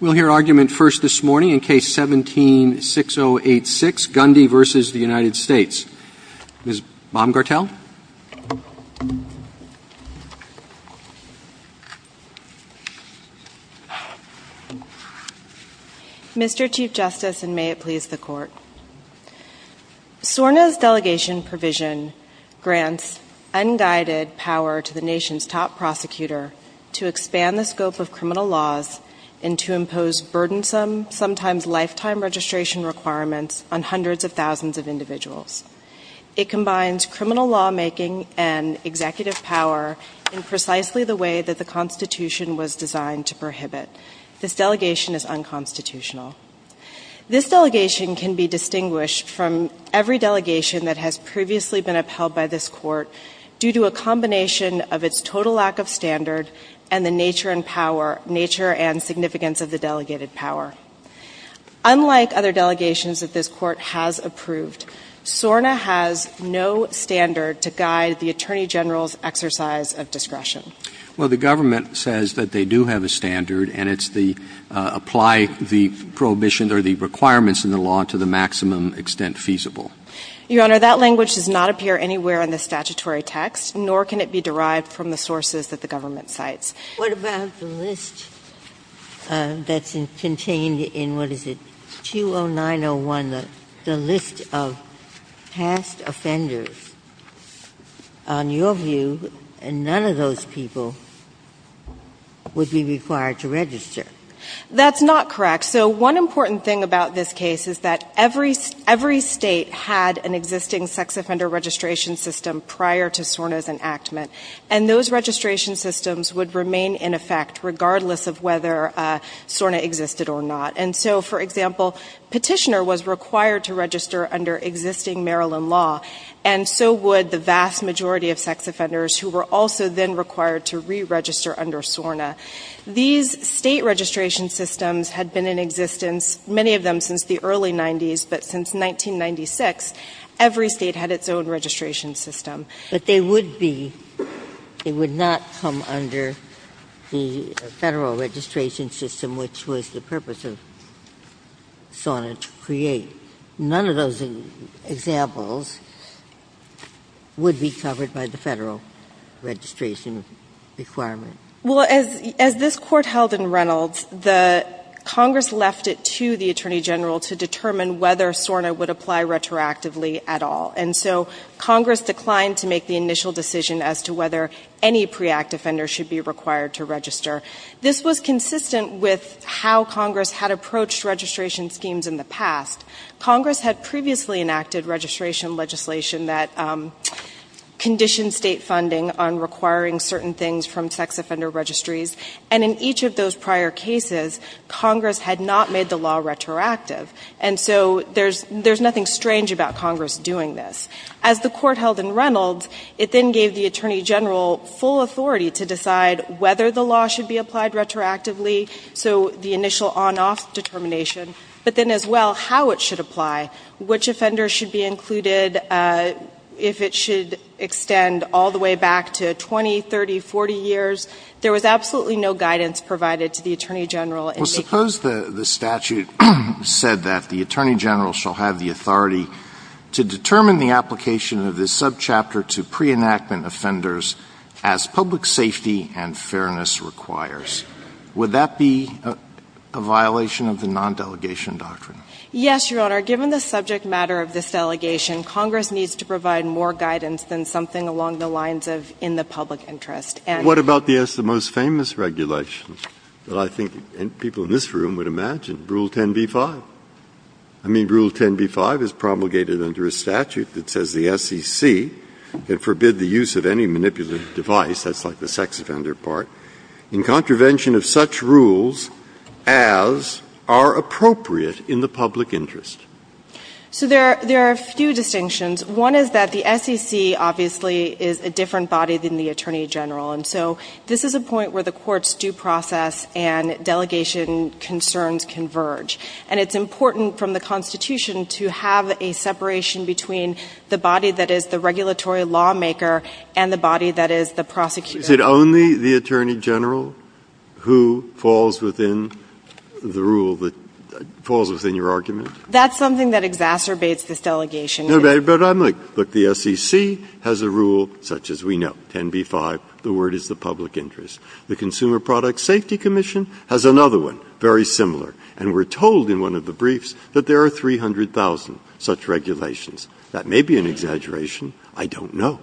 We'll hear argument first this morning in Case 17-6086, Gundy v. United States. Ms. Baumgartel? Mr. Chief Justice, and may it please the Court, SORNA's delegation provision grants unguided power to the nation's top prosecutor to expand the scope of criminal laws and to impose burdensome, sometimes lifetime registration requirements on hundreds of thousands of individuals. It combines criminal lawmaking and executive power in precisely the way that the Constitution was designed to prohibit. This delegation is unconstitutional. This delegation can be distinguished from every delegation that has previously been upheld by this Court due to a combination of its total lack of standard and the nature and significance of the delegated power. Unlike other delegations that this Court has approved, SORNA has no standard to guide the Attorney General's exercise of discretion. Well, the government says that they do have a standard, and it's the apply the prohibition or the requirements in the law to the maximum extent feasible. Your Honor, that language does not appear anywhere in the statutory text, nor can it be derived from the sources that the government cites. What about the list that's contained in, what is it, 20901, the list of past offenders? On your view, none of those people would be required to register. That's not correct. So one important thing about this case is that every state had an existing sex offender registration system prior to SORNA's enactment, and those registration systems would remain in effect regardless of whether SORNA existed or not. And so, for example, Petitioner was required to register under existing Maryland law, and so would the vast majority of sex offenders who were also then required to re-register under SORNA. These State registration systems had been in existence, many of them since the early 90s, but since 1996, every State had its own registration system. But they would be, they would not come under the Federal registration system, which was the purpose of SORNA to create. None of those examples would be covered by the Federal registration requirement. Well, as this Court held in Reynolds, Congress left it to the Attorney General to determine whether SORNA would apply retroactively at all. And so Congress declined to make the initial decision as to whether any pre-Act offender should be required to register. This was consistent with how Congress had approached registration schemes in the past. Congress had previously enacted registration legislation that conditioned State funding on requiring certain things from sex offender registries. And in each of those prior cases, Congress had not made the law retroactive. And so there's nothing strange about Congress doing this. As the Court held in Reynolds, it then gave the Attorney General full authority to decide whether the law should be applied retroactively, so the initial on-off determination, but then as well how it should apply, which offenders should be included, if it should extend all the way back to 20, 30, 40 years. There was absolutely no guidance provided to the Attorney General in making that decision. Well, suppose the statute said that the Attorney General shall have the authority to determine the application of this subchapter to pre-enactment offenders as public safety and fairness requires. Would that be a violation of the non-delegation doctrine? Yes, Your Honor. Given the subject matter of this delegation, Congress needs to provide more guidance than something along the lines of in the public interest. And what about the most famous regulation that I think people in this room would imagine, Rule 10b-5? I mean, Rule 10b-5 is promulgated under a statute that says the SEC can forbid the use of any manipulative device, that's like the sex offender part, in contravention of such rules as are appropriate in the public interest. So there are a few distinctions. One is that the SEC obviously is a different body than the Attorney General. And so this is a point where the Court's due process and delegation concerns converge. And it's important from the Constitution to have a separation between the body that is the regulatory lawmaker and the body that is the prosecutor. Is it only the Attorney General who falls within the rule that falls within your argument? That's something that exacerbates this delegation. No, but I'm like, look, the SEC has a rule such as we know, 10b-5, the word is the public interest. The Consumer Product Safety Commission has another one, very similar. And we're told in one of the briefs that there are 300,000 such regulations. That may be an exaggeration. I don't know.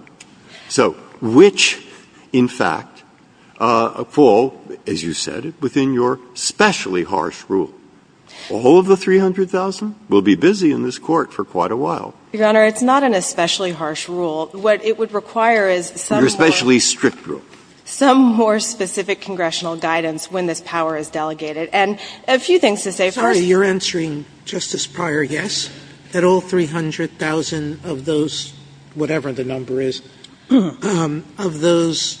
So which, in fact, fall, as you said, within your especially harsh rule? All of the 300,000 will be busy in this Court for quite a while. Your Honor, it's not an especially harsh rule. What it would require is some more. Your especially strict rule. Some more specific congressional guidance when this power is delegated. And a few things to say first. Sotomayor, you're answering, Justice Pryor, yes, that all 300,000 of those, whatever the number is, of those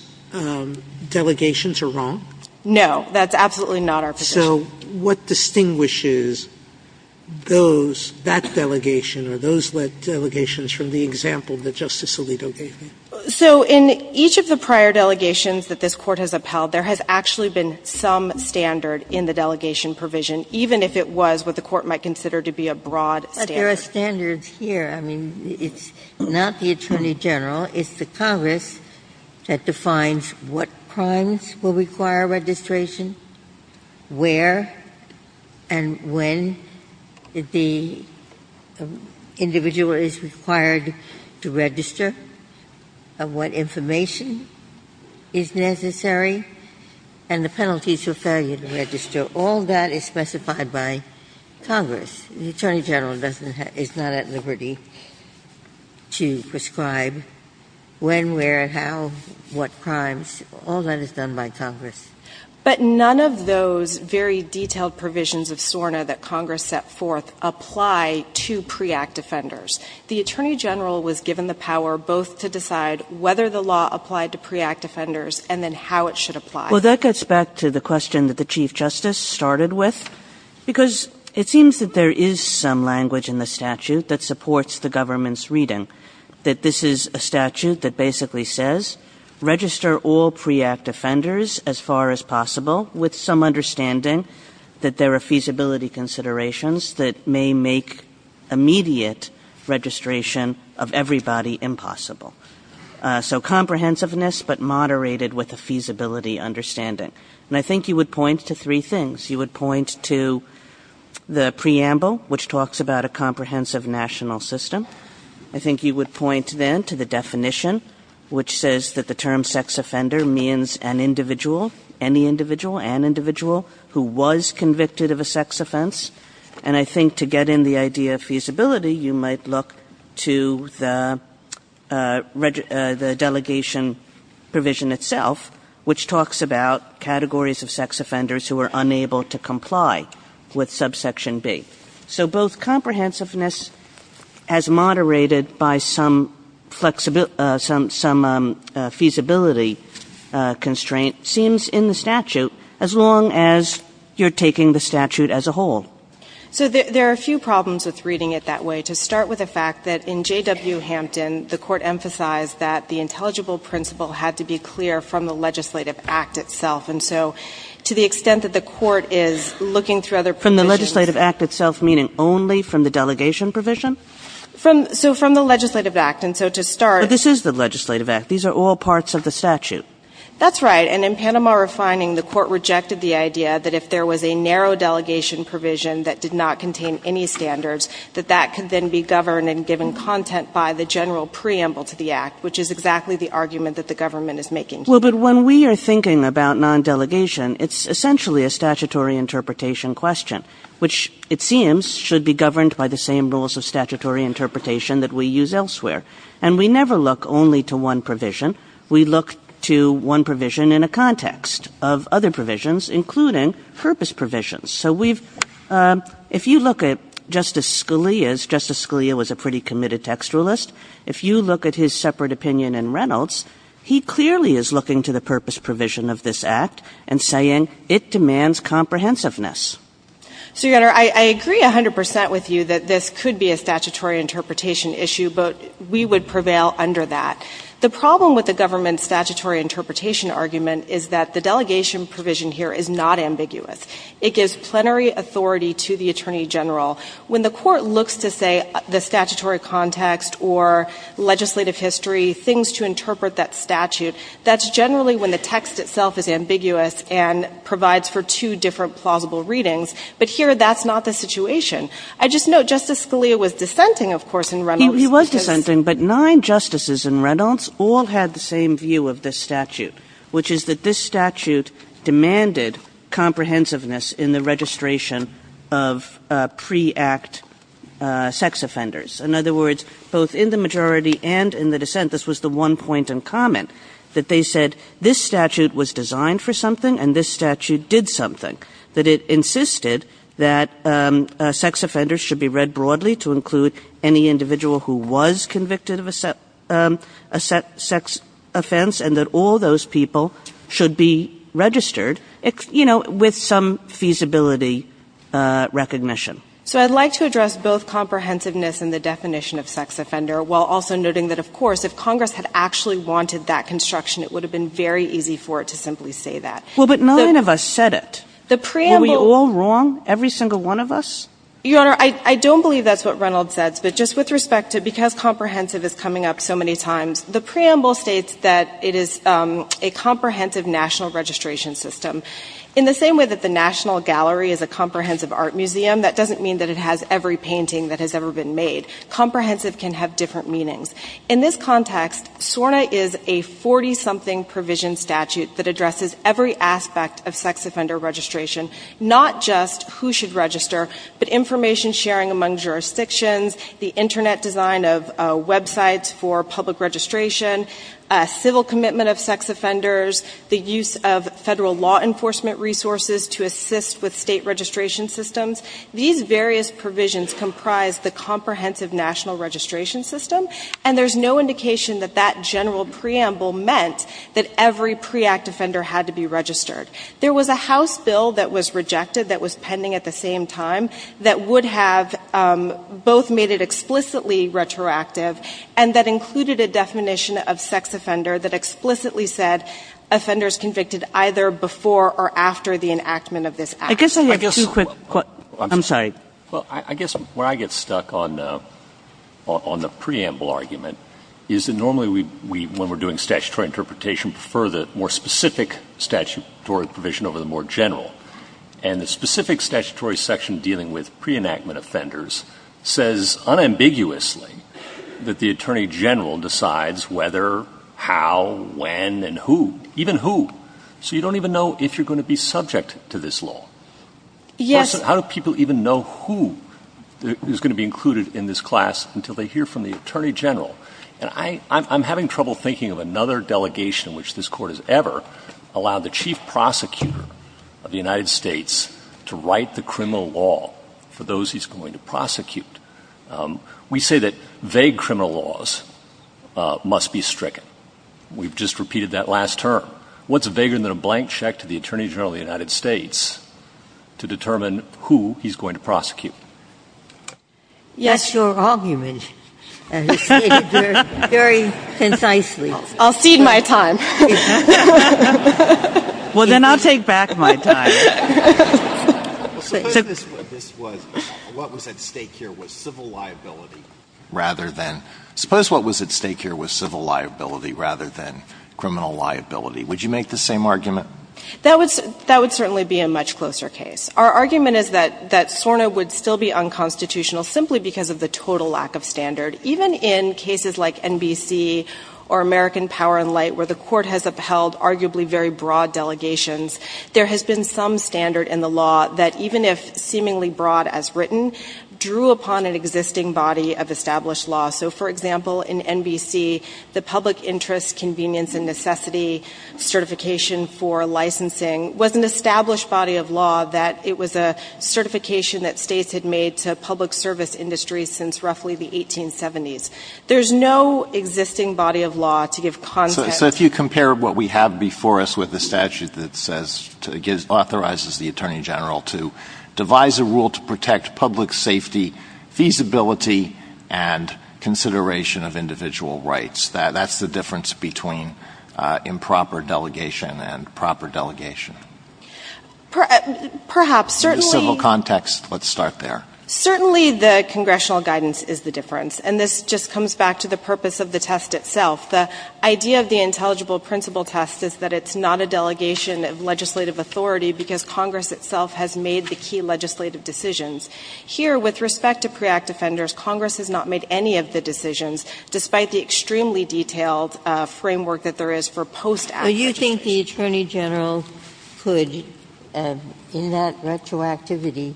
delegations are wrong? No. That's absolutely not our position. So what distinguishes those, that delegation or those delegations from the example that Justice Alito gave me? So in each of the prior delegations that this Court has upheld, there has actually been some standard in the delegation provision, even if it was what the Court might consider to be a broad standard. There are standards here. I mean, it's not the Attorney General. It's the Congress that defines what crimes will require registration, where and when the individual is required to register, what information is necessary, and the penalties for failure to register. All that is specified by Congress. The Attorney General doesn't have – is not at liberty to prescribe when, where, how, what crimes. All that is done by Congress. But none of those very detailed provisions of SORNA that Congress set forth apply to pre-Act offenders. The Attorney General was given the power both to decide whether the law applied to pre-Act offenders and then how it should apply. Well, that gets back to the question that the Chief Justice started with, because it seems that there is some language in the statute that supports the government's reading, that this is a statute that basically says register all pre-Act offenders as far as possible with some understanding that there are feasibility considerations that may make immediate registration of everybody impossible. So comprehensiveness but moderated with a feasibility understanding. And I think you would point to three things. You would point to the preamble, which talks about a comprehensive national system. I think you would point then to the definition, which says that the term sex offender means an individual, any individual, an individual who was convicted of a sex offense. And I think to get in the idea of feasibility, you might look to the delegation provision itself, which talks about categories of sex offenders who are unable to comply with subsection B. So both comprehensiveness as moderated by some flexibility, some feasibility constraint seems in the statute as long as you're taking the statute as a whole. So there are a few problems with reading it that way. To start with the fact that in J.W. Hampton, the court emphasized that the intelligible principle had to be clear from the legislative act itself. And so to the extent that the court is looking through other provisions. From the legislative act itself, meaning only from the delegation provision? So from the legislative act. And so to start. But this is the legislative act. These are all parts of the statute. That's right. And in Panama refining, the court rejected the idea that if there was a narrow delegation provision that did not contain any standards, that that could then be governed and given content by the general preamble to the act, which is exactly the argument that the government is making. Well, but when we are thinking about non-delegation, it's essentially a statutory interpretation question. Which it seems should be governed by the same rules of statutory interpretation that we use elsewhere. And we never look only to one provision. We look to one provision in a context of other provisions, including purpose provisions. So if you look at Justice Scalia's, Justice Scalia was a pretty committed textualist. If you look at his separate opinion in Reynolds, he clearly is looking to the purpose provision of this act. And saying it demands comprehensiveness. So, Your Honor, I agree 100% with you that this could be a statutory interpretation issue. But we would prevail under that. The problem with the government's statutory interpretation argument is that the delegation provision here is not ambiguous. It gives plenary authority to the Attorney General. When the Court looks to, say, the statutory context or legislative history, things to interpret that statute, that's generally when the text itself is ambiguous and provides for two different plausible readings. But here, that's not the situation. I just note Justice Scalia was dissenting, of course, in Reynolds. Kagan. He was dissenting, but nine justices in Reynolds all had the same view of this statute, which is that this statute demanded comprehensiveness in the registration of pre-act sex offenders. In other words, both in the majority and in the dissent, this was the one point in common, that they said this statute was designed for something and this statute did something, that it insisted that sex offenders should be read broadly to include any individual who was convicted of a sex offense and that all those people should be registered, you know, with some feasibility recognition. So I'd like to address both comprehensiveness and the definition of sex offender while also noting that, of course, if Congress had actually wanted that construction, it would have been very easy for it to simply say that. Well, but nine of us said it. Were we all wrong, every single one of us? Your Honor, I don't believe that's what Reynolds says, but just with respect to because comprehensive is coming up so many times, the preamble states that it is a comprehensive national registration system. In the same way that the National Gallery is a comprehensive art museum, that doesn't mean that it has every painting that has ever been made. Comprehensive can have different meanings. In this context, SORNA is a 40-something provision statute that addresses every aspect of sex offender registration, not just who should register, but information sharing among jurisdictions, the Internet design of websites for public registration, civil commitment of sex offenders, the use of federal law enforcement resources to assist with state registration systems. These various provisions comprise the comprehensive national registration system, and there's no indication that that general preamble meant that every pre-Act offender had to be registered. There was a House bill that was rejected that was pending at the same time that would have both made it explicitly retroactive and that included a definition of sex offender that explicitly said offenders convicted either before or after the enactment of this Act. I guess I have two quick questions. I'm sorry. Well, I guess where I get stuck on the preamble argument is that normally we, when we're doing statutory interpretation, prefer the more specific statutory provision over the more general. And the specific statutory section dealing with pre-enactment offenders says unambiguously that the attorney general decides whether, how, when, and who, even who. So you don't even know if you're going to be subject to this law. Yes. How do people even know who is going to be included in this class until they hear from the attorney general? And I'm having trouble thinking of another delegation in which this Court has ever allowed the chief prosecutor of the United States to write the criminal law for those he's going to prosecute. We say that vague criminal laws must be stricken. We've just repeated that last term. What's vaguer than a blank check to the attorney general of the United States to determine who he's going to prosecute? Yes. Your argument is stated very concisely. I'll cede my time. Well, then I'll take back my time. Suppose this was, what was at stake here was civil liability rather than, suppose what was at stake here was civil liability rather than criminal liability. Would you make the same argument? That would certainly be a much closer case. Our argument is that SORNA would still be unconstitutional simply because of the total lack of standard. Even in cases like NBC or American Power and Light where the Court has upheld arguably very broad delegations, there has been some standard in the law that even if seemingly broad as written, drew upon an existing body of established law. So, for example, in NBC, the public interest convenience and necessity certification for licensing was an established body of law that it was a certification that states had made to public service industries since roughly the 1870s. There's no existing body of law to give context. So if you compare what we have before us with the statute that says, authorizes the attorney general to devise a rule to protect public safety, feasibility, and consideration of individual rights, that's the difference between improper delegation and proper delegation. In the civil context, let's start there. Certainly the congressional guidance is the difference. And this just comes back to the purpose of the test itself. The idea of the intelligible principle test is that it's not a delegation of legislative authority because Congress itself has made the key legislative decisions. Here, with respect to pre-Act offenders, Congress has not made any of the decisions despite the extremely detailed framework that there is for post-Act. Ginsburg. Do you think the attorney general could, in that retroactivity,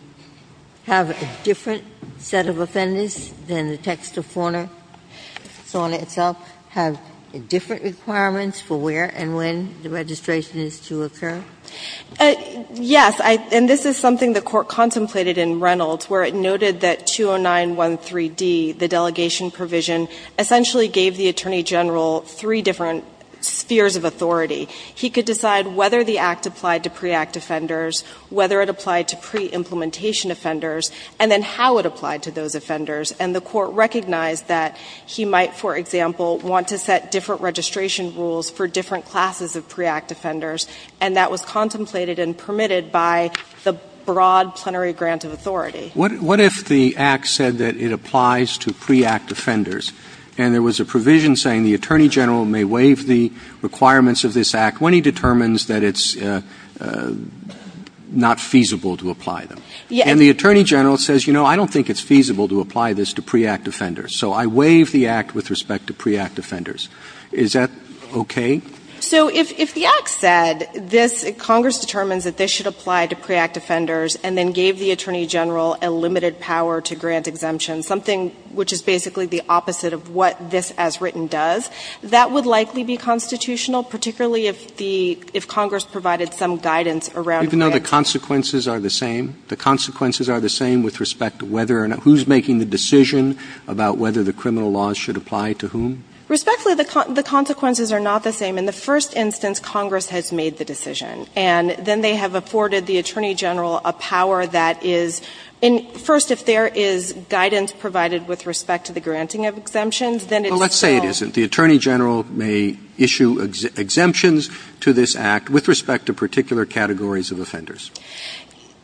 have a different set of offenders than the text of Fauna? Fauna itself have different requirements for where and when the registration is to occur? Yes. And this is something the Court contemplated in Reynolds, where it noted that 209-13D, the delegation provision, essentially gave the attorney general three different spheres of authority. He could decide whether the Act applied to pre-Act offenders, whether it applied to pre-implementation offenders, and then how it applied to those offenders. And the Court recognized that he might, for example, want to set different registration rules for different classes of pre-Act offenders. And that was contemplated and permitted by the broad plenary grant of authority. What if the Act said that it applies to pre-Act offenders, and there was a provision saying the attorney general may waive the requirements of this Act when he determines that it's not feasible to apply them? And the attorney general says, you know, I don't think it's feasible to apply this to pre-Act offenders, so I waive the Act with respect to pre-Act offenders. Is that okay? So if the Act said this, Congress determines that this should apply to pre-Act offenders, and then gave the attorney general a limited power to grant exemption, something which is basically the opposite of what this as written does, that would likely be constitutional, particularly if the – if Congress provided some guidance around which. Even though the consequences are the same? The consequences are the same with respect to whether – who's making the decision about whether the criminal laws should apply to whom? Respectfully, the consequences are not the same. In the first instance, Congress has made the decision. And then they have afforded the attorney general a power that is – first, if there is guidance provided with respect to the granting of exemptions, then it's still Well, let's say it isn't. The attorney general may issue exemptions to this Act with respect to particular categories of offenders.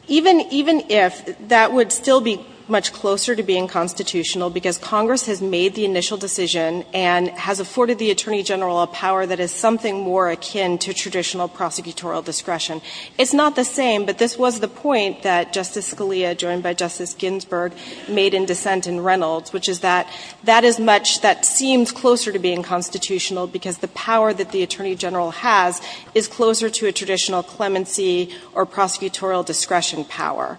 Even – even if, that would still be much closer to being constitutional, because Congress has made the initial decision and has afforded the attorney general a power that is something more akin to traditional prosecutorial discretion. It's not the same, but this was the point that Justice Scalia, joined by Justice Ginsburg, made in dissent in Reynolds, which is that that is much – that seems closer to being constitutional because the power that the attorney general has is closer to a traditional clemency or prosecutorial discretion power.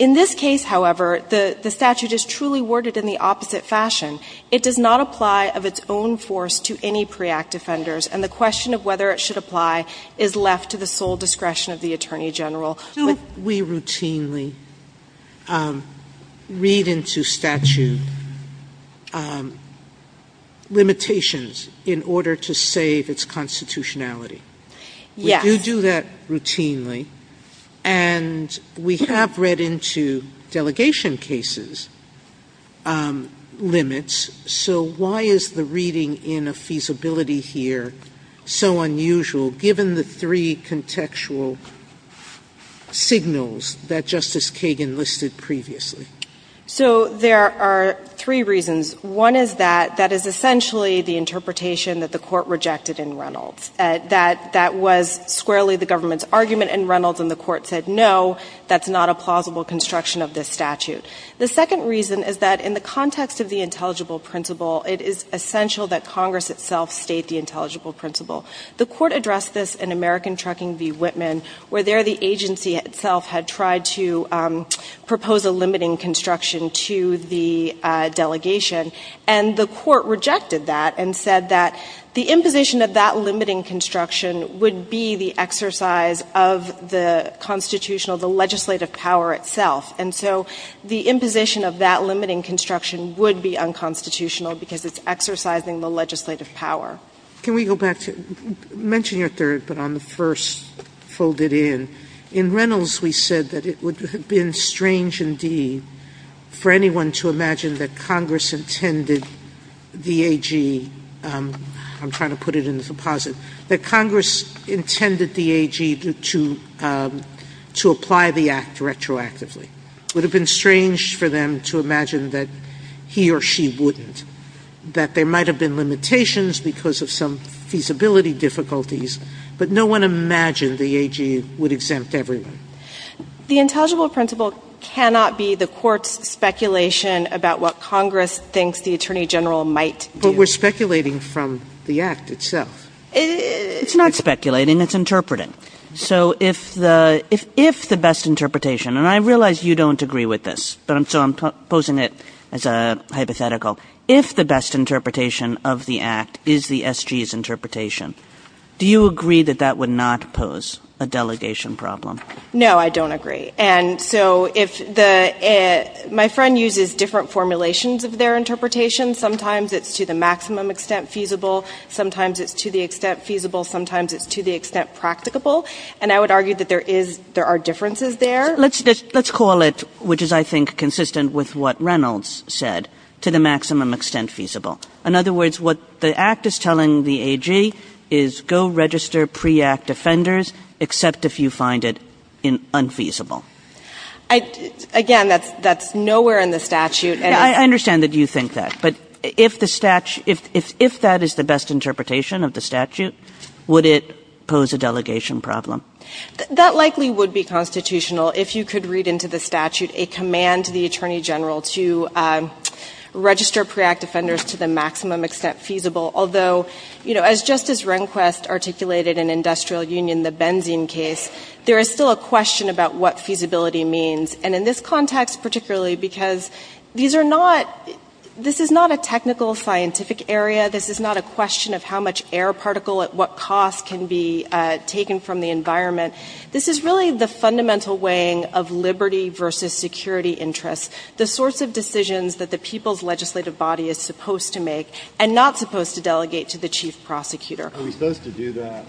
In this case, however, the statute is truly worded in the opposite fashion. It does not apply of its own force to any pre-Act offenders. And the question of whether it should apply is left to the sole discretion of the attorney general. Do we routinely read into statute limitations in order to save its constitutionality? Yes. We do that routinely. And we have read into delegation cases limits. So why is the reading in a feasibility here so unusual, given the three contextual signals that Justice Kagan listed previously? So there are three reasons. One is that that is essentially the interpretation that the Court rejected in Reynolds, that that was squarely the government's argument in Reynolds and the Court said, no, that's not a plausible construction of this statute. The second reason is that in the context of the intelligible principle, it is essential that Congress itself state the intelligible principle. The Court addressed this in American Trucking v. Whitman, where there the agency itself had tried to propose a limiting construction to the delegation. And the Court rejected that and said that the imposition of that limiting construction would be the exercise of the constitutional, the legislative power itself. And so the imposition of that limiting construction would be unconstitutional because it's exercising the legislative power. Sotomayor, can we go back to you? Mention your third, but on the first, fold it in. In Reynolds, we said that it would have been strange indeed for anyone to imagine that Congress intended the AG, I'm trying to put it in the deposit, that Congress intended the AG to apply the Act retroactively. It would have been strange for them to imagine that he or she wouldn't, that there might have been limitations because of some feasibility difficulties, but no one imagined the AG would exempt everyone. The intelligible principle cannot be the Court's speculation about what Congress thinks the Attorney General might do. But we're speculating from the Act itself. It's not speculating, it's interpreting. So if the best interpretation, and I realize you don't agree with this, so I'm posing it as a hypothetical. If the best interpretation of the Act is the SG's interpretation, do you agree that that would not pose a delegation problem? No, I don't agree. And so if the, my friend uses different formulations of their interpretation. Sometimes it's to the maximum extent feasible. Sometimes it's to the extent feasible. Sometimes it's to the extent practicable. And I would argue that there is, there are differences there. Let's call it, which is I think consistent with what Reynolds said, to the maximum extent feasible. In other words, what the Act is telling the AG is go register pre-Act offenders except if you find it unfeasible. Again, that's nowhere in the statute. I understand that you think that. But if the statute, if that is the best interpretation of the statute, would it pose a delegation problem? That likely would be constitutional if you could read into the statute a command to the Attorney General to register pre-Act offenders to the maximum extent feasible. Although, you know, as Justice Rehnquist articulated in Industrial Union, the benzene case, there is still a question about what feasibility means. And in this context particularly, because these are not, this is not a technical scientific area. This is not a question of how much air particle at what cost can be taken from the environment. This is really the fundamental weighing of liberty versus security interests, the sorts of decisions that the people's legislative body is supposed to make and not supposed to delegate to the chief prosecutor. Are we supposed to do that?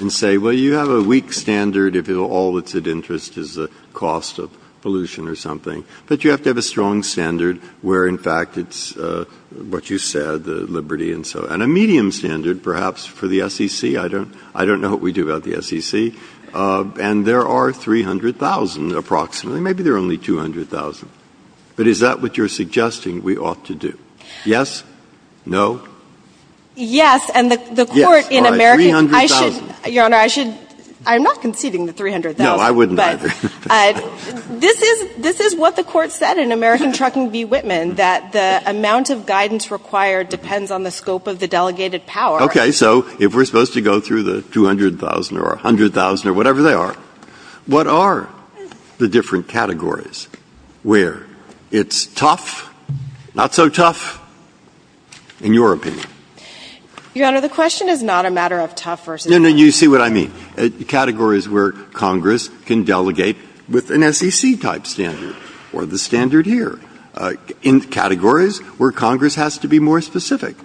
And say, well, you have a weak standard if all that's at interest is the cost of pollution or something. But you have to have a strong standard where, in fact, it's what you said, the liberty and so on. And a medium standard perhaps for the SEC. I don't know what we do about the SEC. And there are 300,000 approximately. Maybe there are only 200,000. But is that what you're suggesting we ought to do? Yes? No? Yes. And the Court in America, I should, Your Honor, I should, I'm not conceding the 300,000. No, I wouldn't either. This is, this is what the Court said in American Trucking v. Whitman, that the amount of guidance required depends on the scope of the delegated power. Okay. So if we're supposed to go through the 200,000 or 100,000 or whatever they are, what are the different categories where it's tough, not so tough, in your opinion? Your Honor, the question is not a matter of tough versus not. No, no. You see what I mean. Categories where Congress can delegate with an SEC-type standard or the standard here. In categories where Congress has to be more specific.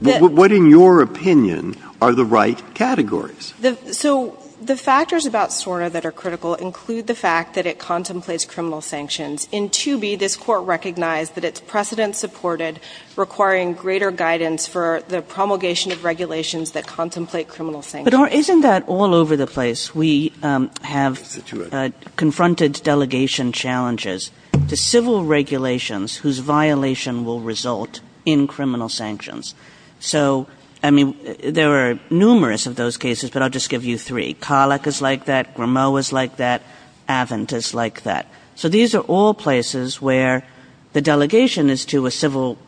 What, in your opinion, are the right categories? So the factors about SORNA that are critical include the fact that it contemplates criminal sanctions. In 2B, this Court recognized that it's precedent-supported, requiring greater guidance for the promulgation of regulations that contemplate criminal sanctions. But, Your Honor, isn't that all over the place? We have confronted delegation challenges to civil regulations whose violation will result in criminal sanctions. So, I mean, there are numerous of those cases, but I'll just give you three. CALEC is like that. GRMO is like that. Avent is like that. So these are all places where the delegation is to a civil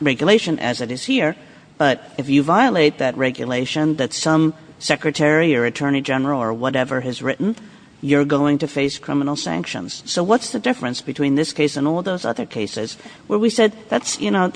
regulation, as it is here, but if you violate that regulation that some secretary or attorney general or whatever has written, you're going to face criminal sanctions. So what's the difference between this case and all those other cases where we said, you know,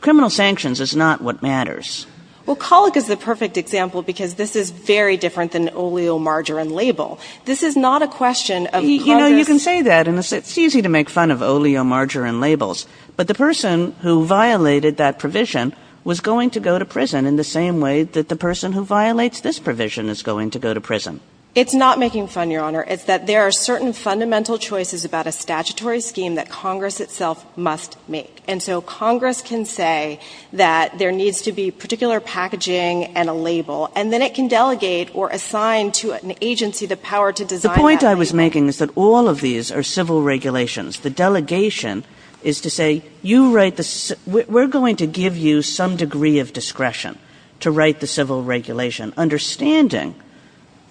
criminal sanctions is not what matters? Well, CALEC is the perfect example because this is very different than oleomargarine label. This is not a question of Congress. You know, you can say that, and it's easy to make fun of oleomargarine labels, but the person who violated that provision was going to go to prison in the same way that the person who violates this provision is going to go to prison. It's not making fun, Your Honor. It's that there are certain fundamental choices about a statutory scheme that Congress itself must make, and so Congress can say that there needs to be particular packaging and a label, and then it can delegate or assign to an agency the power to design that label. The point I was making is that all of these are civil regulations. The delegation is to say, you write the – we're going to give you some degree of discretion to write the civil regulation, understanding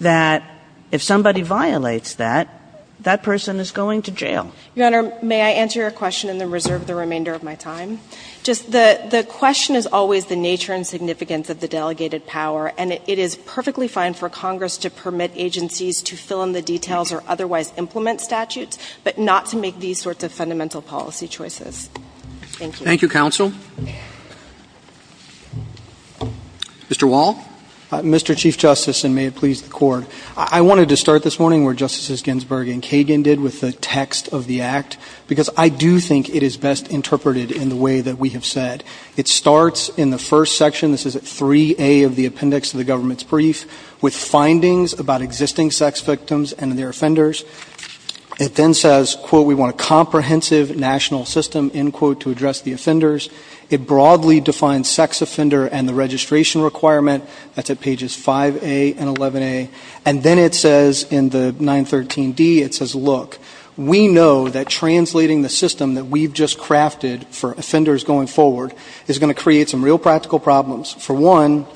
that if somebody violates that, that person is going to jail. Your Honor, may I answer your question in the reserve of the remainder of my time? Just the question is always the nature and significance of the delegated power, and it is perfectly fine for Congress to permit agencies to fill in the details or otherwise implement statutes, but not to make these sorts of fundamental policy choices. Thank you. Thank you, counsel. Mr. Wall? Mr. Chief Justice, and may it please the Court, I wanted to start this morning where Justices Ginsburg and Kagan did with the text of the Act, because I do think it is best interpreted in the way that we have said. It starts in the first section. This is at 3A of the appendix of the government's brief, with findings about existing sex victims and their offenders. It then says, quote, we want a comprehensive national system, end quote, to address the offenders. It broadly defines sex offender and the registration requirement. That's at pages 5A and 11A. And then it says in the 913D, it says, look, we know that translating the system that we've just crafted for offenders going forward is going to create some real practical problems. For one,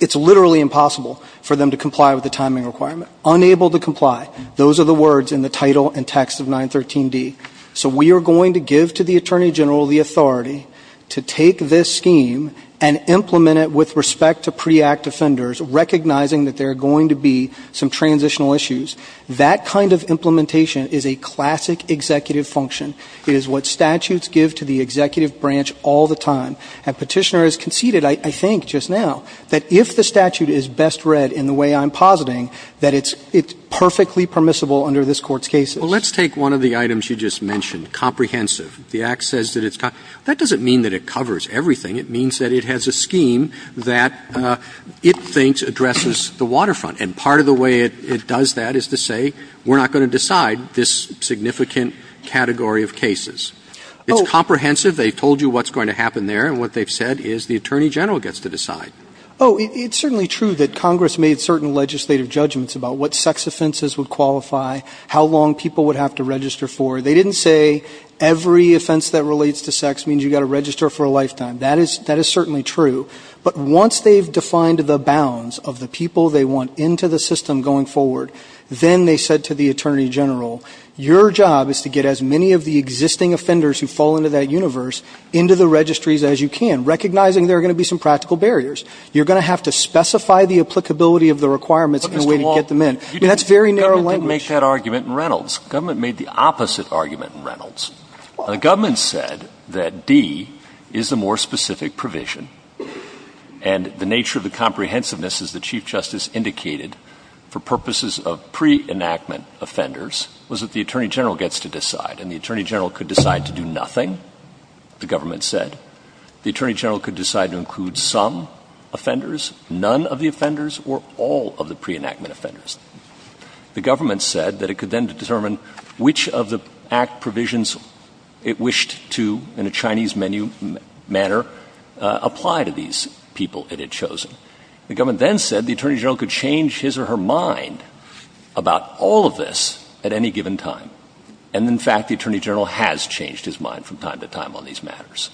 it's literally impossible for them to comply with the timing requirement. Unable to comply. Those are the words in the title and text of 913D. So we are going to give to the Attorney General the authority to take this scheme and implement it with respect to pre-Act offenders, recognizing that there are going to be some transitional issues. That kind of implementation is a classic executive function. It is what statutes give to the executive branch all the time. And Petitioner has conceded, I think just now, that if the statute is best read in the way I'm positing, that it's perfectly permissible under this Court's cases. Roberts. Well, let's take one of the items you just mentioned, comprehensive. The Act says that it's comprehensive. That doesn't mean that it covers everything. It means that it has a scheme that it thinks addresses the waterfront. And part of the way it does that is to say we're not going to decide this significant category of cases. It's comprehensive. They've told you what's going to happen there. And what they've said is the Attorney General gets to decide. Oh, it's certainly true that Congress made certain legislative judgments about what sex offenses would qualify, how long people would have to register for. They didn't say every offense that relates to sex means you've got to register for a lifetime. That is certainly true. But once they've defined the bounds of the people they want into the system going forward, then they said to the Attorney General, your job is to get as many of the existing offenders who fall into that universe into the registries as you can, recognizing there are going to be some practical barriers. You're going to have to specify the applicability of the requirements in a way to get them in. That's very narrow language. The government didn't make that argument in Reynolds. The government made the opposite argument in Reynolds. The government said that D is the more specific provision, and the nature of the comprehensiveness, as the Chief Justice indicated, for purposes of pre-enactment offenders was that the Attorney General gets to decide. And the Attorney General could decide to do nothing, the government said. The Attorney General could decide to include some offenders, none of the offenders, or all of the pre-enactment offenders. The government said that it could then determine which of the Act provisions it wished to, in a Chinese menu manner, apply to these people it had chosen. The government then said the Attorney General could change his or her mind about all of this at any given time. And, in fact, the Attorney General has changed his mind from time to time on these matters.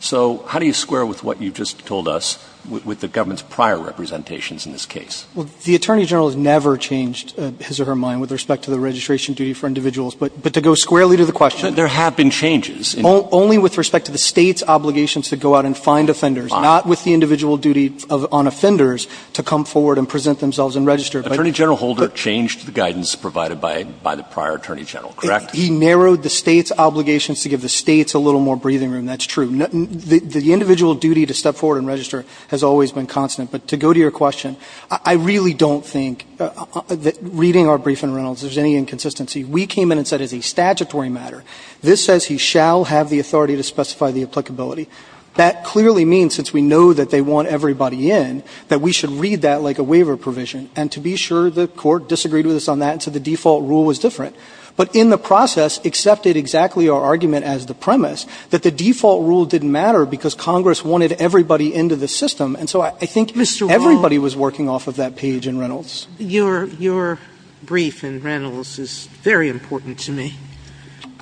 So how do you square with what you just told us with the government's prior representations in this case? Well, the Attorney General has never changed his or her mind with respect to the registration duty for individuals. But to go squarely to the question. There have been changes. Only with respect to the State's obligations to go out and find offenders. Not with the individual duty on offenders to come forward and present themselves and register. Attorney General Holder changed the guidance provided by the prior Attorney General, correct? He narrowed the State's obligations to give the States a little more breathing room. That's true. The individual duty to step forward and register has always been constant. But to go to your question, I really don't think that reading our brief in Reynolds there's any inconsistency. We came in and said it's a statutory matter. This says he shall have the authority to specify the applicability. That clearly means, since we know that they want everybody in, that we should read that like a waiver provision. And to be sure, the Court disagreed with us on that and said the default rule was different. But in the process accepted exactly our argument as the premise that the default rule didn't matter because Congress wanted everybody into the system. And so I think everybody was working off of that page in Reynolds. Your brief in Reynolds is very important to me.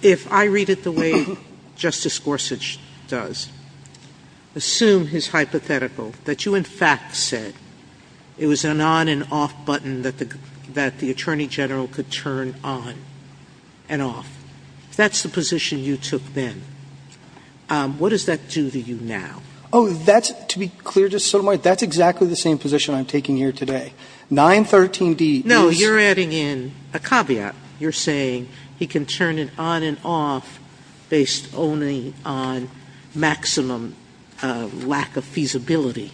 If I read it the way Justice Gorsuch does, assume his hypothetical, that you in fact said it was an on and off button that the Attorney General could turn on and off. That's the position you took then. What does that do to you now? Oh, that's, to be clear, Justice Sotomayor, that's exactly the same position I'm taking here today. 913D is No, you're adding in a caveat. You're saying he can turn it on and off based only on maximum lack of feasibility.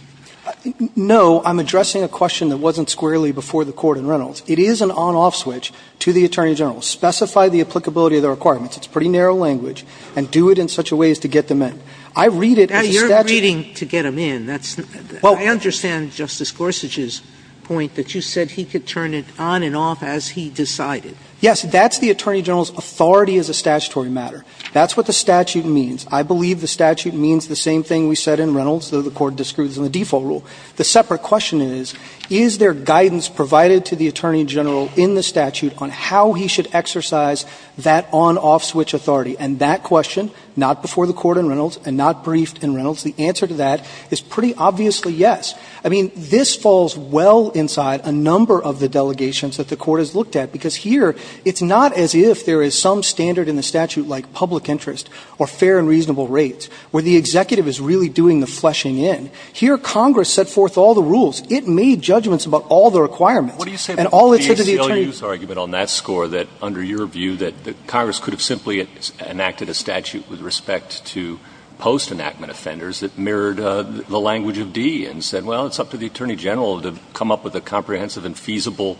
No, I'm addressing a question that wasn't squarely before the Court in Reynolds. It is an on-off switch to the Attorney General. Specify the applicability of the requirements. It's pretty narrow language. And do it in such a way as to get them in. I read it as a statute. Now, you're reading to get them in. I understand Justice Gorsuch's point that you said he could turn it on and off as he decided. Yes, that's the Attorney General's authority as a statutory matter. That's what the statute means. I believe the statute means the same thing we said in Reynolds, though the Court disproves in the default rule. The separate question is, is there guidance provided to the Attorney General in the statute on how he should exercise that on-off switch authority? And that question, not before the Court in Reynolds and not briefed in Reynolds, the answer to that is pretty obviously yes. I mean, this falls well inside a number of the delegations that the Court has looked at, because here it's not as if there is some standard in the statute like public interest or fair and reasonable rates where the executive is really doing the fleshing in. Here Congress set forth all the rules. It made judgments about all the requirements. And all it said to the Attorney General. But there's an obvious argument on that score that under your view that Congress could have simply enacted a statute with respect to post-enactment offenders that mirrored the language of D and said, well, it's up to the Attorney General to come up with a comprehensive and feasible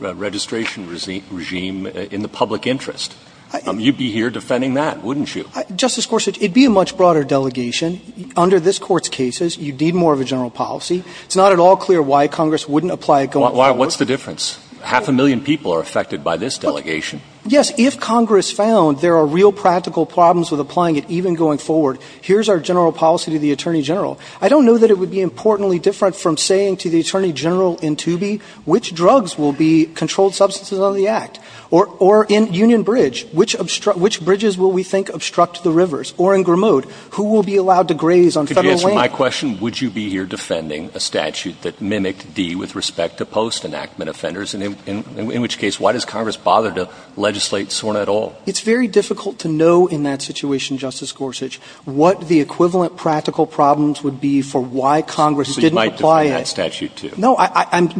registration regime in the public interest. You'd be here defending that, wouldn't you? Justice Gorsuch, it would be a much broader delegation. Under this Court's cases, you'd need more of a general policy. It's not at all clear why Congress wouldn't apply it going forward. Well, what's the difference? Half a million people are affected by this delegation. Yes. If Congress found there are real practical problems with applying it even going forward, here's our general policy to the Attorney General. I don't know that it would be importantly different from saying to the Attorney General in Toobie which drugs will be controlled substances under the Act. Or in Union Bridge, which bridges will we think obstruct the rivers? Or in Grimaud, who will be allowed to graze on Federal land? Could you answer my question? Would you be here defending a statute that mimicked D with respect to post-enactment offenders? In which case, why does Congress bother to legislate SORNA at all? It's very difficult to know in that situation, Justice Gorsuch, what the equivalent practical problems would be for why Congress didn't apply it. So you might defend that statute, too. No.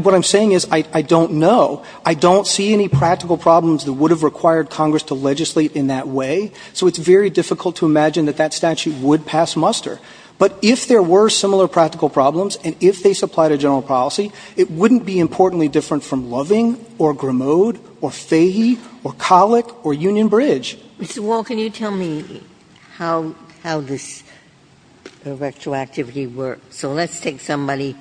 What I'm saying is I don't know. I don't see any practical problems that would have required Congress to legislate in that way. So it's very difficult to imagine that that statute would pass muster. But if there were similar practical problems, and if they supplied a general policy, it wouldn't be importantly different from Loving or Grimaud or Fahy or Collick or Union Bridge. Ginsburg. Mr. Wall, can you tell me how this retroactivity works? So let's take somebody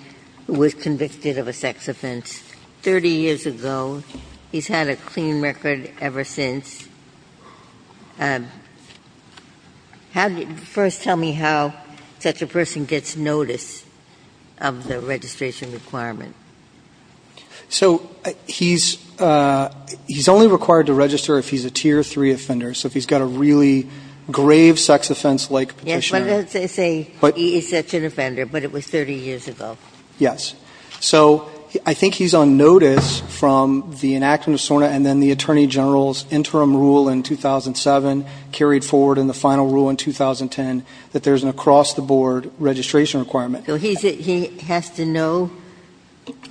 who was convicted of a sex offense 30 years ago. He's had a clean record ever since. First, tell me how such a person gets notice of the registration requirement. So he's only required to register if he's a Tier 3 offender. So if he's got a really grave sex offense-like petitioner. Yes, but let's say he is such an offender, but it was 30 years ago. Yes. So I think he's on notice from the enactment of SORNA and then the Attorney General's interim rule in 2007, carried forward in the final rule in 2010, that there's an across-the-board registration requirement. So he has to know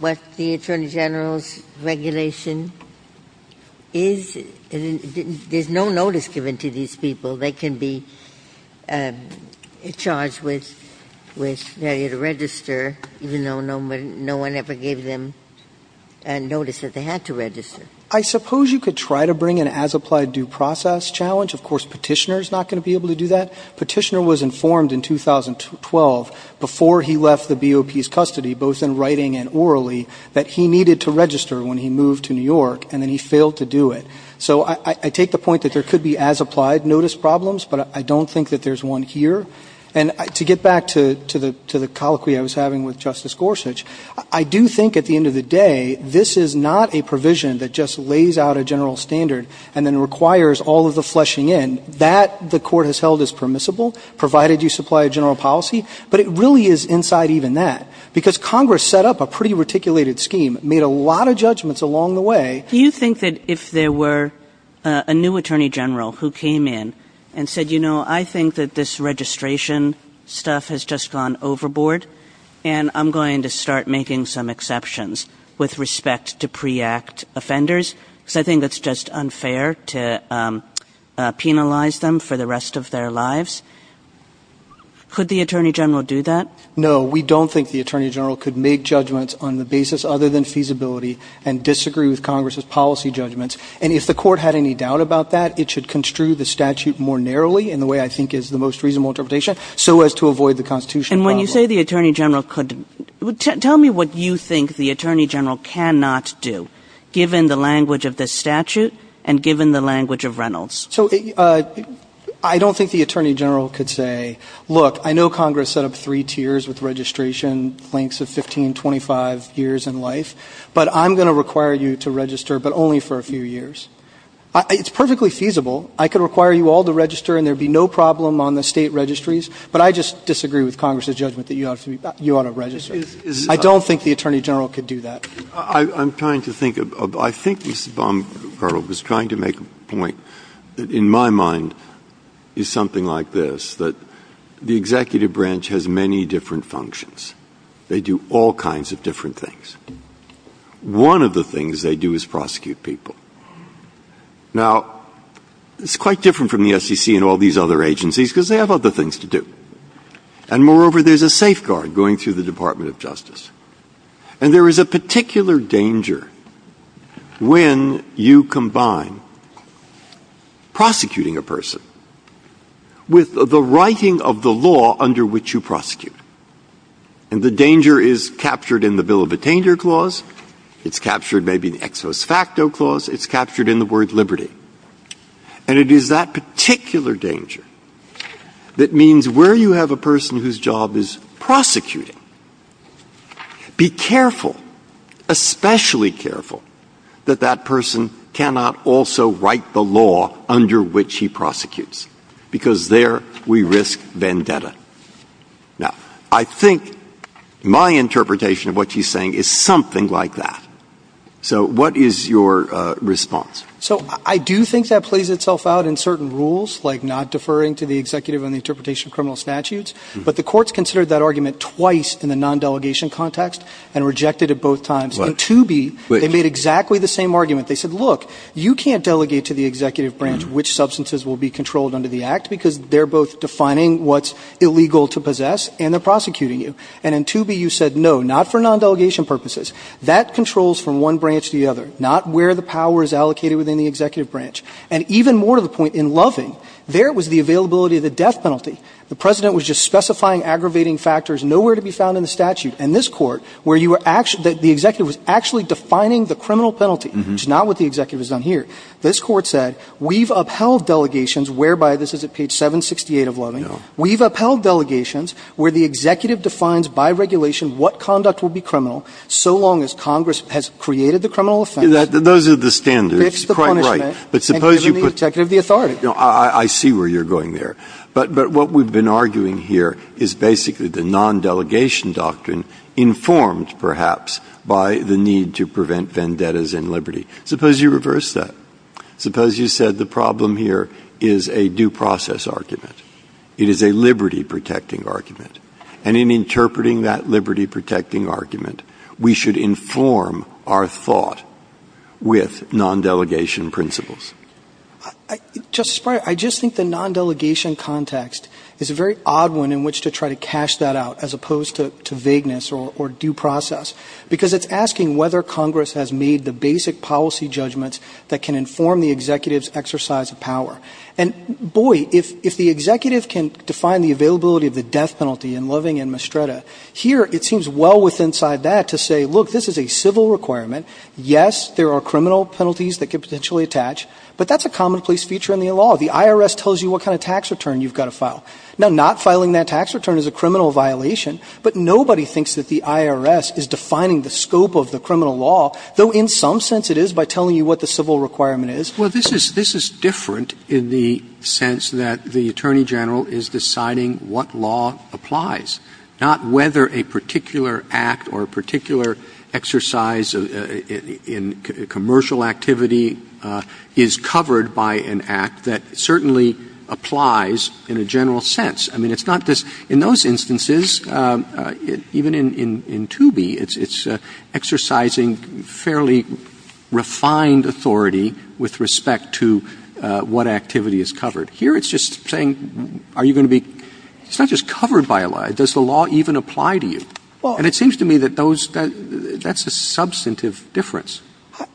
what the Attorney General's regulation is? There's no notice given to these people. They can be charged with having to register, even though no one ever gave them notice that they had to register. I suppose you could try to bring an as-applied due process challenge. Of course, petitioner's not going to be able to do that. Petitioner was informed in 2012, before he left the BOP's custody, both in writing and orally, that he needed to register when he moved to New York, and then he failed to do it. So I take the point that there could be as-applied notice problems, but I don't think that there's one here. And to get back to the colloquy I was having with Justice Gorsuch, I do think at the lays out a general standard, and then requires all of the fleshing in, that the court has held as permissible, provided you supply a general policy. But it really is inside even that, because Congress set up a pretty reticulated scheme, made a lot of judgments along the way. Do you think that if there were a new Attorney General who came in and said, you know, I think that this registration stuff has just gone overboard, and I'm going to start making some exceptions with respect to pre-act offenders? Because I think that's just unfair to penalize them for the rest of their lives. Could the Attorney General do that? No. We don't think the Attorney General could make judgments on the basis other than feasibility, and disagree with Congress's policy judgments. And if the court had any doubt about that, it should construe the statute more narrowly, in the way I think is the most reasonable interpretation, so as to avoid the Constitution problem. And when you say the Attorney General could, tell me what you think the Attorney General cannot do, given the language of this statute, and given the language of Reynolds. So I don't think the Attorney General could say, look, I know Congress set up three tiers with registration lengths of 15, 25 years in life, but I'm going to require you to register, but only for a few years. It's perfectly feasible. I could require you all to register, and there would be no problem on the State Registries, but I just disagree with Congress's judgment that you ought to register. I don't think the Attorney General could do that. Breyer. I'm trying to think. I think Mrs. Baumgartner was trying to make a point that, in my mind, is something like this, that the executive branch has many different functions. They do all kinds of different things. One of the things they do is prosecute people. Now, it's quite different from the SEC and all these other agencies, because they have other things to do. And moreover, there's a safeguard going through the Department of Justice. And there is a particular danger when you combine prosecuting a person with the writing of the law under which you prosecute. And the danger is captured in the Bill of Attainder Clause. It's captured maybe in the Ex Post Facto Clause. It's captured in the word liberty. And it is that particular danger that means where you have a person whose job is prosecuting, be careful, especially careful, that that person cannot also write the law under which he prosecutes, because there we risk vendetta. Now, I think my interpretation of what she's saying is something like that. So what is your response? So I do think that plays itself out in certain rules, like not deferring to the executive on the interpretation of criminal statutes. But the courts considered that argument twice in the non-delegation context and rejected it both times. In 2B, they made exactly the same argument. They said, look, you can't delegate to the executive branch which substances will be controlled under the Act, because they're both defining what's illegal to possess, and they're prosecuting you. And in 2B, you said, no, not for non-delegation purposes. That controls from one branch to the other. Not where the power is allocated within the executive branch. And even more to the point, in Loving, there was the availability of the death penalty. The President was just specifying aggravating factors nowhere to be found in the statute. And this Court, where you were actually – the executive was actually defining the criminal penalty, which is not what the executive has done here. This Court said, we've upheld delegations whereby – this is at page 768 of Loving. We've upheld delegations where the executive defines by regulation what conduct will be criminal so long as Congress has created the criminal offense. Breyer. Those are the standards. Fixed the punishment. Breyer. Right. But suppose you put – Roberts. And given the executive the authority. Breyer. I see where you're going there. But what we've been arguing here is basically the non-delegation doctrine informed, perhaps, by the need to prevent vendettas in liberty. Suppose you reverse that. Suppose you said the problem here is a due process argument. It is a liberty-protecting argument. And in interpreting that liberty-protecting argument, we should inform our thought with non-delegation principles. Justice Breyer, I just think the non-delegation context is a very odd one in which to try to cash that out as opposed to vagueness or due process, because it's asking whether Congress has made the basic policy judgments that can inform the executive's exercise of power. And, boy, if the executive can define the availability of the death penalty in Loving and Mastretta, here it seems well withinside that to say, look, this is a civil requirement. Yes, there are criminal penalties that could potentially attach, but that's a commonplace feature in the law. The IRS tells you what kind of tax return you've got to file. Now, not filing that tax return is a criminal violation, but nobody thinks that the IRS is defining the scope of the criminal law, though in some sense it is by telling you what the civil requirement is. Well, this is different in the sense that the Attorney General is deciding what law applies, not whether a particular act or a particular exercise in commercial activity is covered by an act that certainly applies in a general sense. I mean, it's not this – in those instances, even in Toobie, it's exercising fairly refined authority with respect to what activity is covered. Here it's just saying are you going to be – it's not just covered by a law. Does the law even apply to you? And it seems to me that those – that's a substantive difference.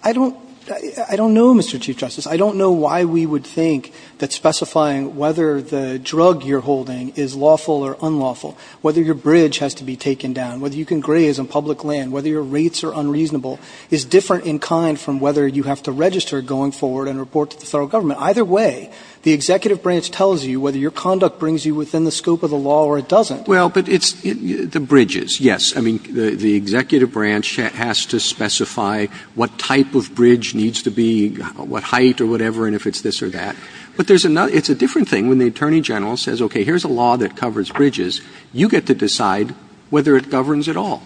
I don't know, Mr. Chief Justice. I don't know why we would think that specifying whether the drug you're holding is lawful or unlawful, whether your bridge has to be taken down, whether you can graze on public land, whether your rates are unreasonable, is different in kind from whether you have to register going forward and report to the federal government. Either way, the executive branch tells you whether your conduct brings you within the scope of the law or it doesn't. Well, but it's – the bridges, yes. I mean, the executive branch has to specify what type of bridge needs to be, what height or whatever, and if it's this or that. But there's another – it's a different thing when the Attorney General says, okay, here's a law that covers bridges, you get to decide whether it governs at all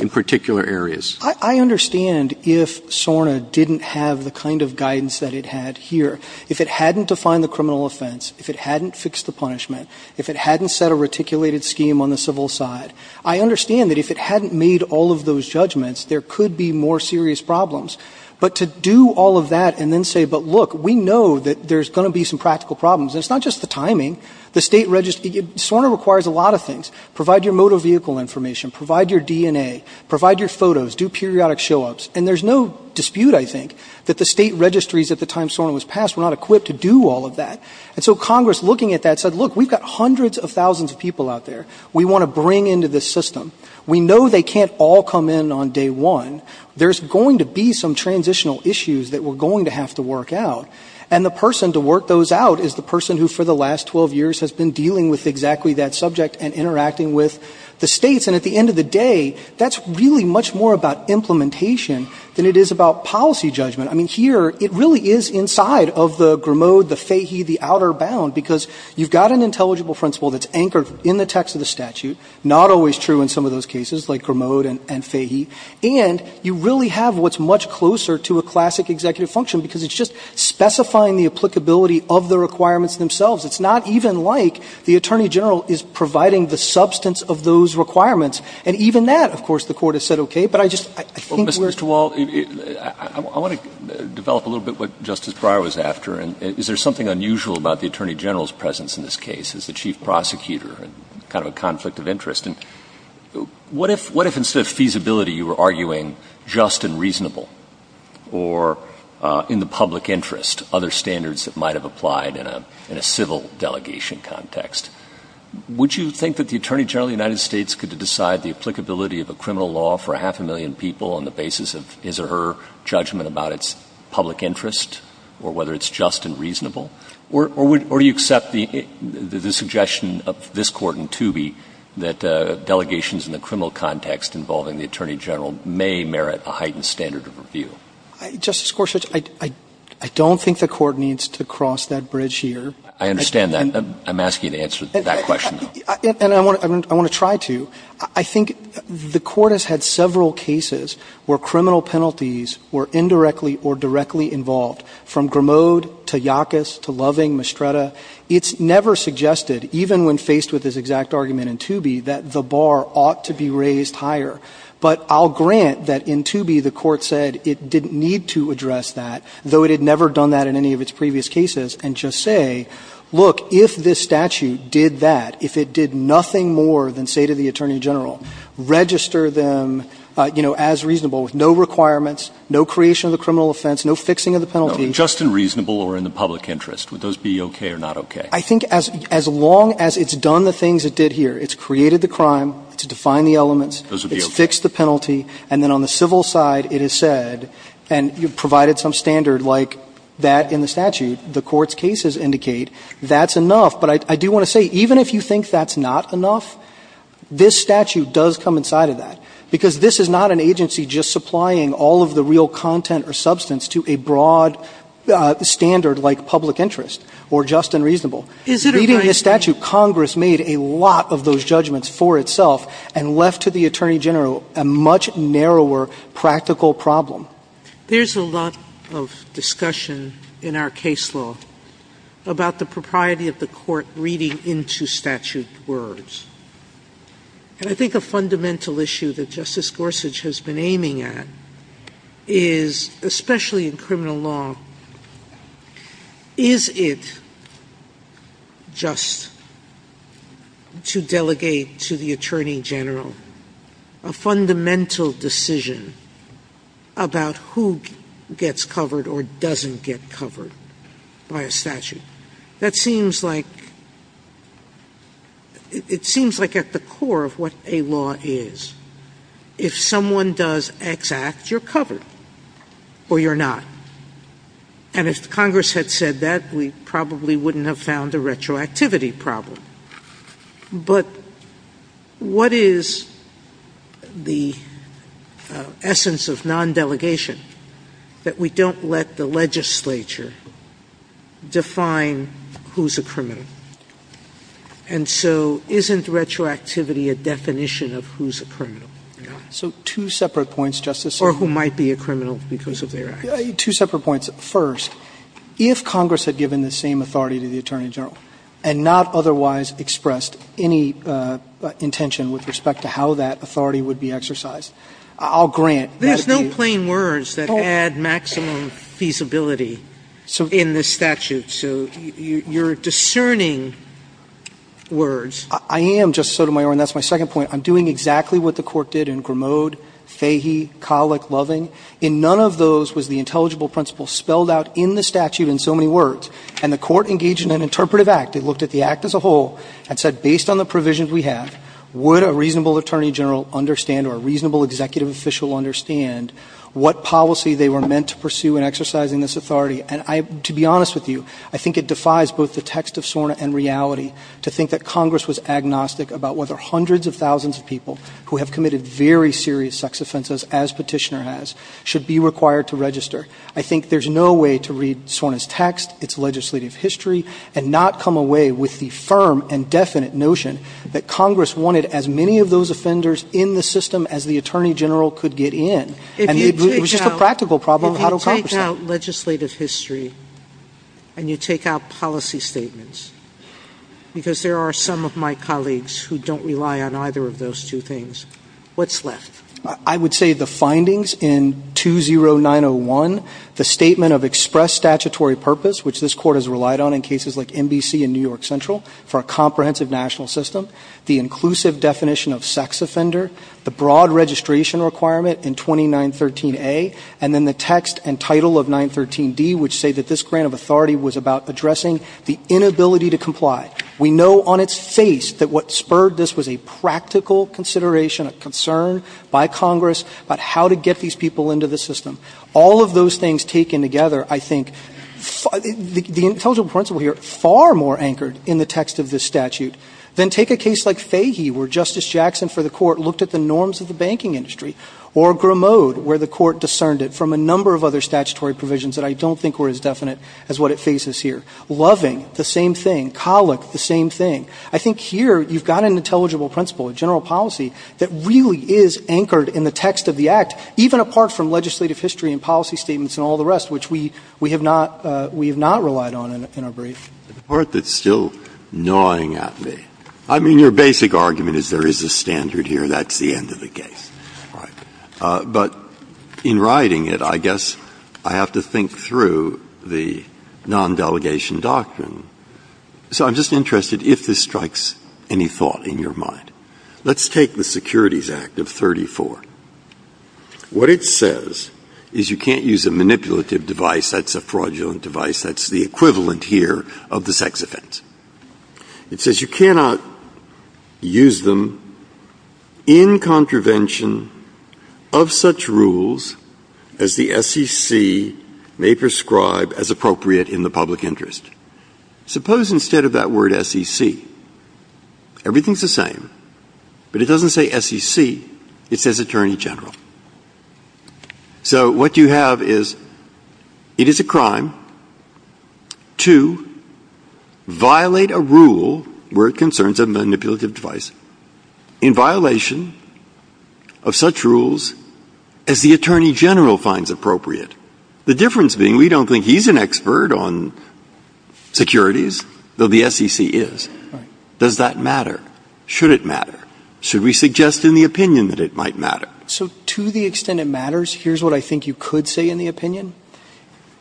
in particular areas. I understand if SORNA didn't have the kind of guidance that it had here. If it hadn't defined the criminal offense, if it hadn't fixed the punishment, if it hadn't set a reticulated scheme on the civil side, I understand that if it hadn't made all of those judgments, there could be more serious problems. But to do all of that and then say, but look, we know that there's going to be some – SORNA requires a lot of things. Provide your motor vehicle information. Provide your DNA. Provide your photos. Do periodic show-ups. And there's no dispute, I think, that the state registries at the time SORNA was passed were not equipped to do all of that. And so Congress, looking at that, said, look, we've got hundreds of thousands of people out there we want to bring into this system. We know they can't all come in on day one. There's going to be some transitional issues that we're going to have to work out. And the person to work those out is the person who, for the last 12 years, has been dealing with exactly that subject and interacting with the states. And at the end of the day, that's really much more about implementation than it is about policy judgment. I mean, here it really is inside of the Grimaud, the Fahy, the outer bound, because you've got an intelligible principle that's anchored in the text of the statute, not always true in some of those cases, like Grimaud and Fahy. And you really have what's much closer to a classic executive function, because it's just specifying the applicability of the requirements themselves. It's not even like the Attorney General is providing the substance of those requirements. And even that, of course, the Court has said okay. But I just think we're — Mr. Wall, I want to develop a little bit what Justice Breyer was after. Is there something unusual about the Attorney General's presence in this case as the chief prosecutor and kind of a conflict of interest? And what if instead of feasibility you were arguing just and reasonable or in the public interest, other standards that might have applied in a civil delegation context, would you think that the Attorney General of the United States could decide the applicability of a criminal law for a half a million people on the basis of his or her judgment about its public interest or whether it's just and reasonable? Or do you accept the suggestion of this Court in Toobie that delegations in the criminal context involving the Attorney General may merit a heightened standard of review? Justice Gorsuch, I don't think the Court needs to cross that bridge here. I understand that. I'm asking you to answer that question, though. And I want to try to. I think the Court has had several cases where criminal penalties were indirectly or directly involved, from Grimaud to Yackas to Loving, Mestreda. It's never suggested, even when faced with this exact argument in Toobie, that the bar ought to be raised higher. But I'll grant that in Toobie the Court said it didn't need to address that, though it had never done that in any of its previous cases, and just say, look, if this statute did that, if it did nothing more than say to the Attorney General, register them, you know, as reasonable, with no requirements, no creation of the criminal offense, no fixing of the penalty. No, just in reasonable or in the public interest. Would those be okay or not okay? I think as long as it's done the things it did here, it's created the crime, it's defined the elements. Those would be okay. It's fixed the penalty. And then on the civil side, it is said, and you've provided some standard like that in the statute, the Court's cases indicate that's enough. But I do want to say, even if you think that's not enough, this statute does come from the public interest side of that, because this is not an agency just supplying all of the real content or substance to a broad standard like public interest or just and reasonable. Reading the statute, Congress made a lot of those judgments for itself and left to the Attorney General a much narrower practical problem. There's a lot of discussion in our case law about the propriety of the Court reading into statute words. And I think a fundamental issue that Justice Gorsuch has been aiming at is, especially in criminal law, is it just to delegate to the Attorney General a fundamental decision about who gets covered or doesn't get covered by a statute? That seems like at the core of what a law is. If someone does X act, you're covered or you're not. And if Congress had said that, we probably wouldn't have found a retroactivity problem. But what is the essence of non-delegation that we don't let the legislature define who's a criminal? And so isn't retroactivity a definition of who's a criminal? So two separate points, Justice Sotomayor. Or who might be a criminal because of their actions. Two separate points. First, if Congress had given the same authority to the Attorney General and not otherwise expressed any intention with respect to how that authority would be exercised, I'll grant that it would be. There's no plain words that add maximum feasibility in this statute. So you're discerning words. I am, Justice Sotomayor. And that's my second point. I'm doing exactly what the Court did in Grimaud, Fahy, Colick, Loving. In none of those was the intelligible principle spelled out in the statute in so many words. And the Court engaged in an interpretive act. It looked at the act as a whole and said, based on the provisions we have, would a reasonable Attorney General understand or a reasonable executive official understand what policy they were meant to pursue in exercising this authority? And to be honest with you, I think it defies both the text of SORNA and reality to think that Congress was agnostic about whether hundreds of thousands of people who have committed very serious sex offenses, as Petitioner has, should be required to register. I think there's no way to read SORNA's text, its legislative history, and not come away with the firm and definite notion that Congress wanted as many of those offenders in the system as the Attorney General could get in. And it was just a practical problem how to accomplish that. If you take out legislative history and you take out policy statements, because there are some of my colleagues who don't rely on either of those two things, what's left? I would say the findings in 20901, the statement of express statutory purpose, which this Court has relied on in cases like NBC and New York Central for a comprehensive national system, the inclusive definition of sex offender, the broad registration requirement in 2913A, and then the text and title of 913D, which say that this grant of authority was about addressing the inability to comply. We know on its face that what spurred this was a practical consideration, a concern by Congress about how to get these people into the system. All of those things taken together, I think, the intelligible principle here, far more anchored in the text of this statute. Then take a case like Fahy, where Justice Jackson for the Court looked at the norms of the banking industry, or Grimaud, where the Court discerned it from a number of other statutory provisions that I don't think were as definite as what it faces here. Loving, the same thing. Collick, the same thing. I think here you've got an intelligible principle, a general policy, that really is anchored in the text of the Act, even apart from legislative history and policy statements and all the rest, which we have not relied on in our brief. Breyer. The part that's still gnawing at me. I mean, your basic argument is there is a standard here. That's the end of the case. Right. But in writing it, I guess I have to think through the non-delegation doctrine. So I'm just interested if this strikes any thought in your mind. Let's take the Securities Act of 1934. What it says is you can't use a manipulative device. That's a fraudulent device. That's the equivalent here of the sex offense. It says you cannot use them in contravention of such rules as the SEC may prescribe as appropriate in the public interest. Suppose instead of that word SEC, everything is the same, but it doesn't say SEC. It says attorney general. So what you have is it is a crime to violate a rule where it concerns a manipulative device in violation of such rules as the attorney general finds appropriate. The difference being we don't think he's an expert on securities, though the SEC is. Right. Does that matter? Should it matter? Should we suggest in the opinion that it might matter? So to the extent it matters, here's what I think you could say in the opinion.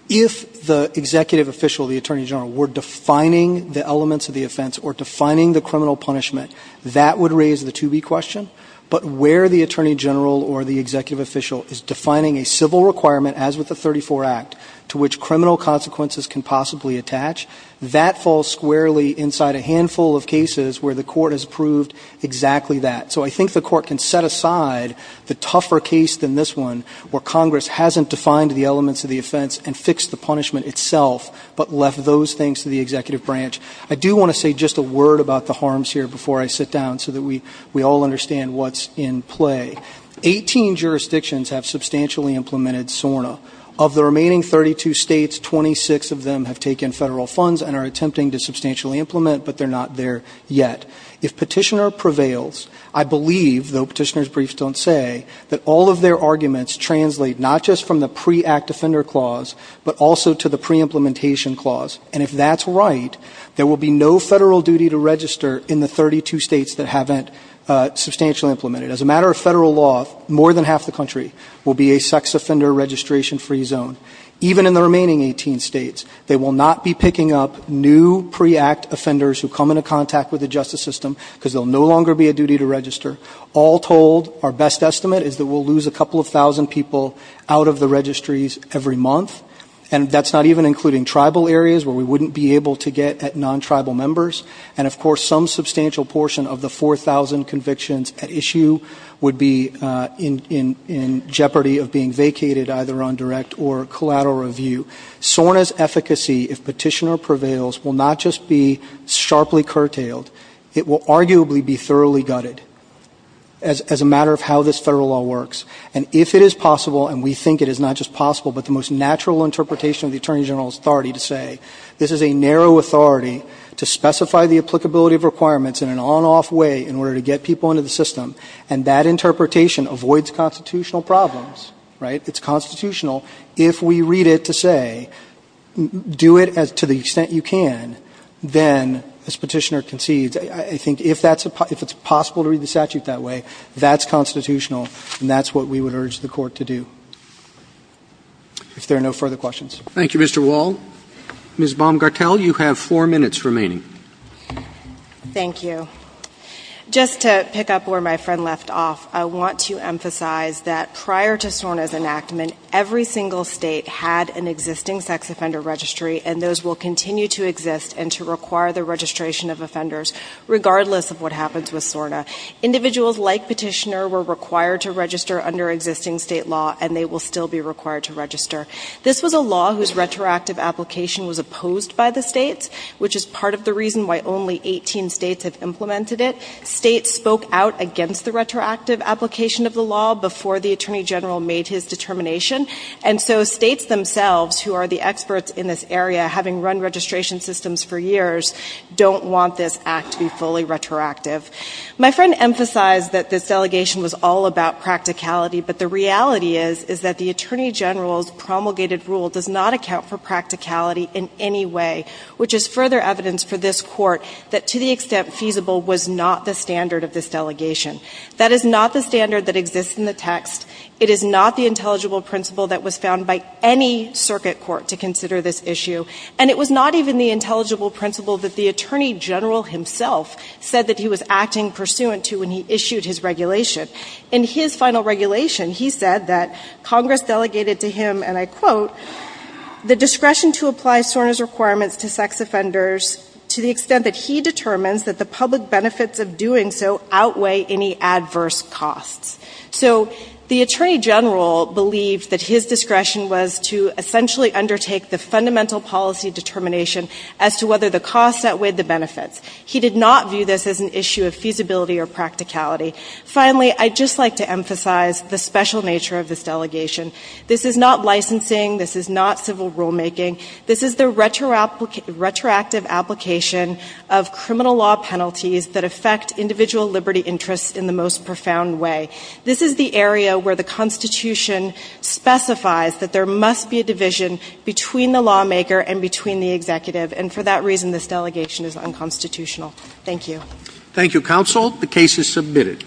If the executive official, the attorney general, were defining the elements of the offense or defining the criminal punishment, that would raise the to be question. But where the attorney general or the executive official is defining a civil requirement, as with the 34 Act, to which criminal consequences can possibly attach, that falls squarely inside a handful of cases where the court has proved exactly that. So I think the court can set aside the tougher case than this one where Congress hasn't defined the elements of the offense and fixed the punishment itself, but left those things to the executive branch. I do want to say just a word about the harms here before I sit down so that we all understand what's in play. Eighteen jurisdictions have substantially implemented SORNA. Of the remaining 32 states, 26 of them have taken Federal funds and are attempting to substantially implement, but they're not there yet. If Petitioner prevails, I believe, though Petitioner's briefs don't say, that all of their arguments translate not just from the pre-Act offender clause, but also to the pre-implementation clause. And if that's right, there will be no Federal duty to register in the 32 states that haven't substantially implemented. As a matter of Federal law, more than half the country will be a sex offender registration-free zone. Even in the remaining 18 states, they will not be picking up new pre-Act offenders who come into contact with the justice system because there will no longer be a duty to register. All told, our best estimate is that we'll lose a couple of thousand people out of the registries every month. And that's not even including tribal areas where we wouldn't be able to get at non-tribal members. And, of course, some substantial portion of the 4,000 convictions at issue would be in jeopardy of being vacated either on direct or collateral review. SORNA's efficacy, if Petitioner prevails, will not just be sharply curtailed. It will arguably be thoroughly gutted as a matter of how this Federal law works. And if it is possible, and we think it is not just possible, but the most natural interpretation of the Attorney General's authority to say, this is a narrow authority to specify the applicability of requirements in an on-off way in order to get people into the system, and that interpretation avoids constitutional problems, right? It's constitutional. If we read it to say, do it to the extent you can, then, as Petitioner concedes, I think if it's possible to read the statute that way, that's constitutional, and that's what we would urge the Court to do. If there are no further questions. Thank you, Mr. Wall. Ms. Baumgartel, you have four minutes remaining. Thank you. Just to pick up where my friend left off, I want to emphasize that prior to SORNA's enactment, every single State had an existing sex offender registry, and those will continue to exist and to require the registration of offenders, regardless of what happens with SORNA. Individuals like Petitioner were required to register under existing State law, and they will still be required to register. This was a law whose retroactive application was opposed by the States, which is part of the reason why only 18 States have implemented it. States spoke out against the retroactive application of the law before the Attorney General made his determination, and so States themselves, who are the experts in this area, having run registration systems for years, don't want this act to be fully retroactive. My friend emphasized that this delegation was all about practicality, but the reality is that the Attorney General's promulgated rule does not account for practicality in any way, which is further evidence for this Court that, to the extent feasible, was not the standard of this delegation. That is not the standard that exists in the text. It is not the intelligible principle that was found by any circuit court to consider this issue, and it was not even the intelligible principle that the Attorney General himself said that he was acting pursuant to when he issued his regulation. In his final regulation, he said that Congress delegated to him, and I quote, the discretion to apply SORNA's requirements to sex offenders to the extent that he determines that the public benefits of doing so outweigh any adverse costs. So the Attorney General believed that his discretion was to essentially undertake the fundamental policy determination as to whether the costs outweighed the benefits. He did not view this as an issue of feasibility or practicality. Finally, I'd just like to emphasize the special nature of this delegation. This is not licensing. This is not civil rulemaking. This is the retroactive application of criminal law penalties that affect individual liberty interests in the most profound way. This is the area where the Constitution specifies that there must be a division between the lawmaker and between the executive, and for that reason, this delegation is unconstitutional. Thank you. Thank you, Counsel. The case is submitted.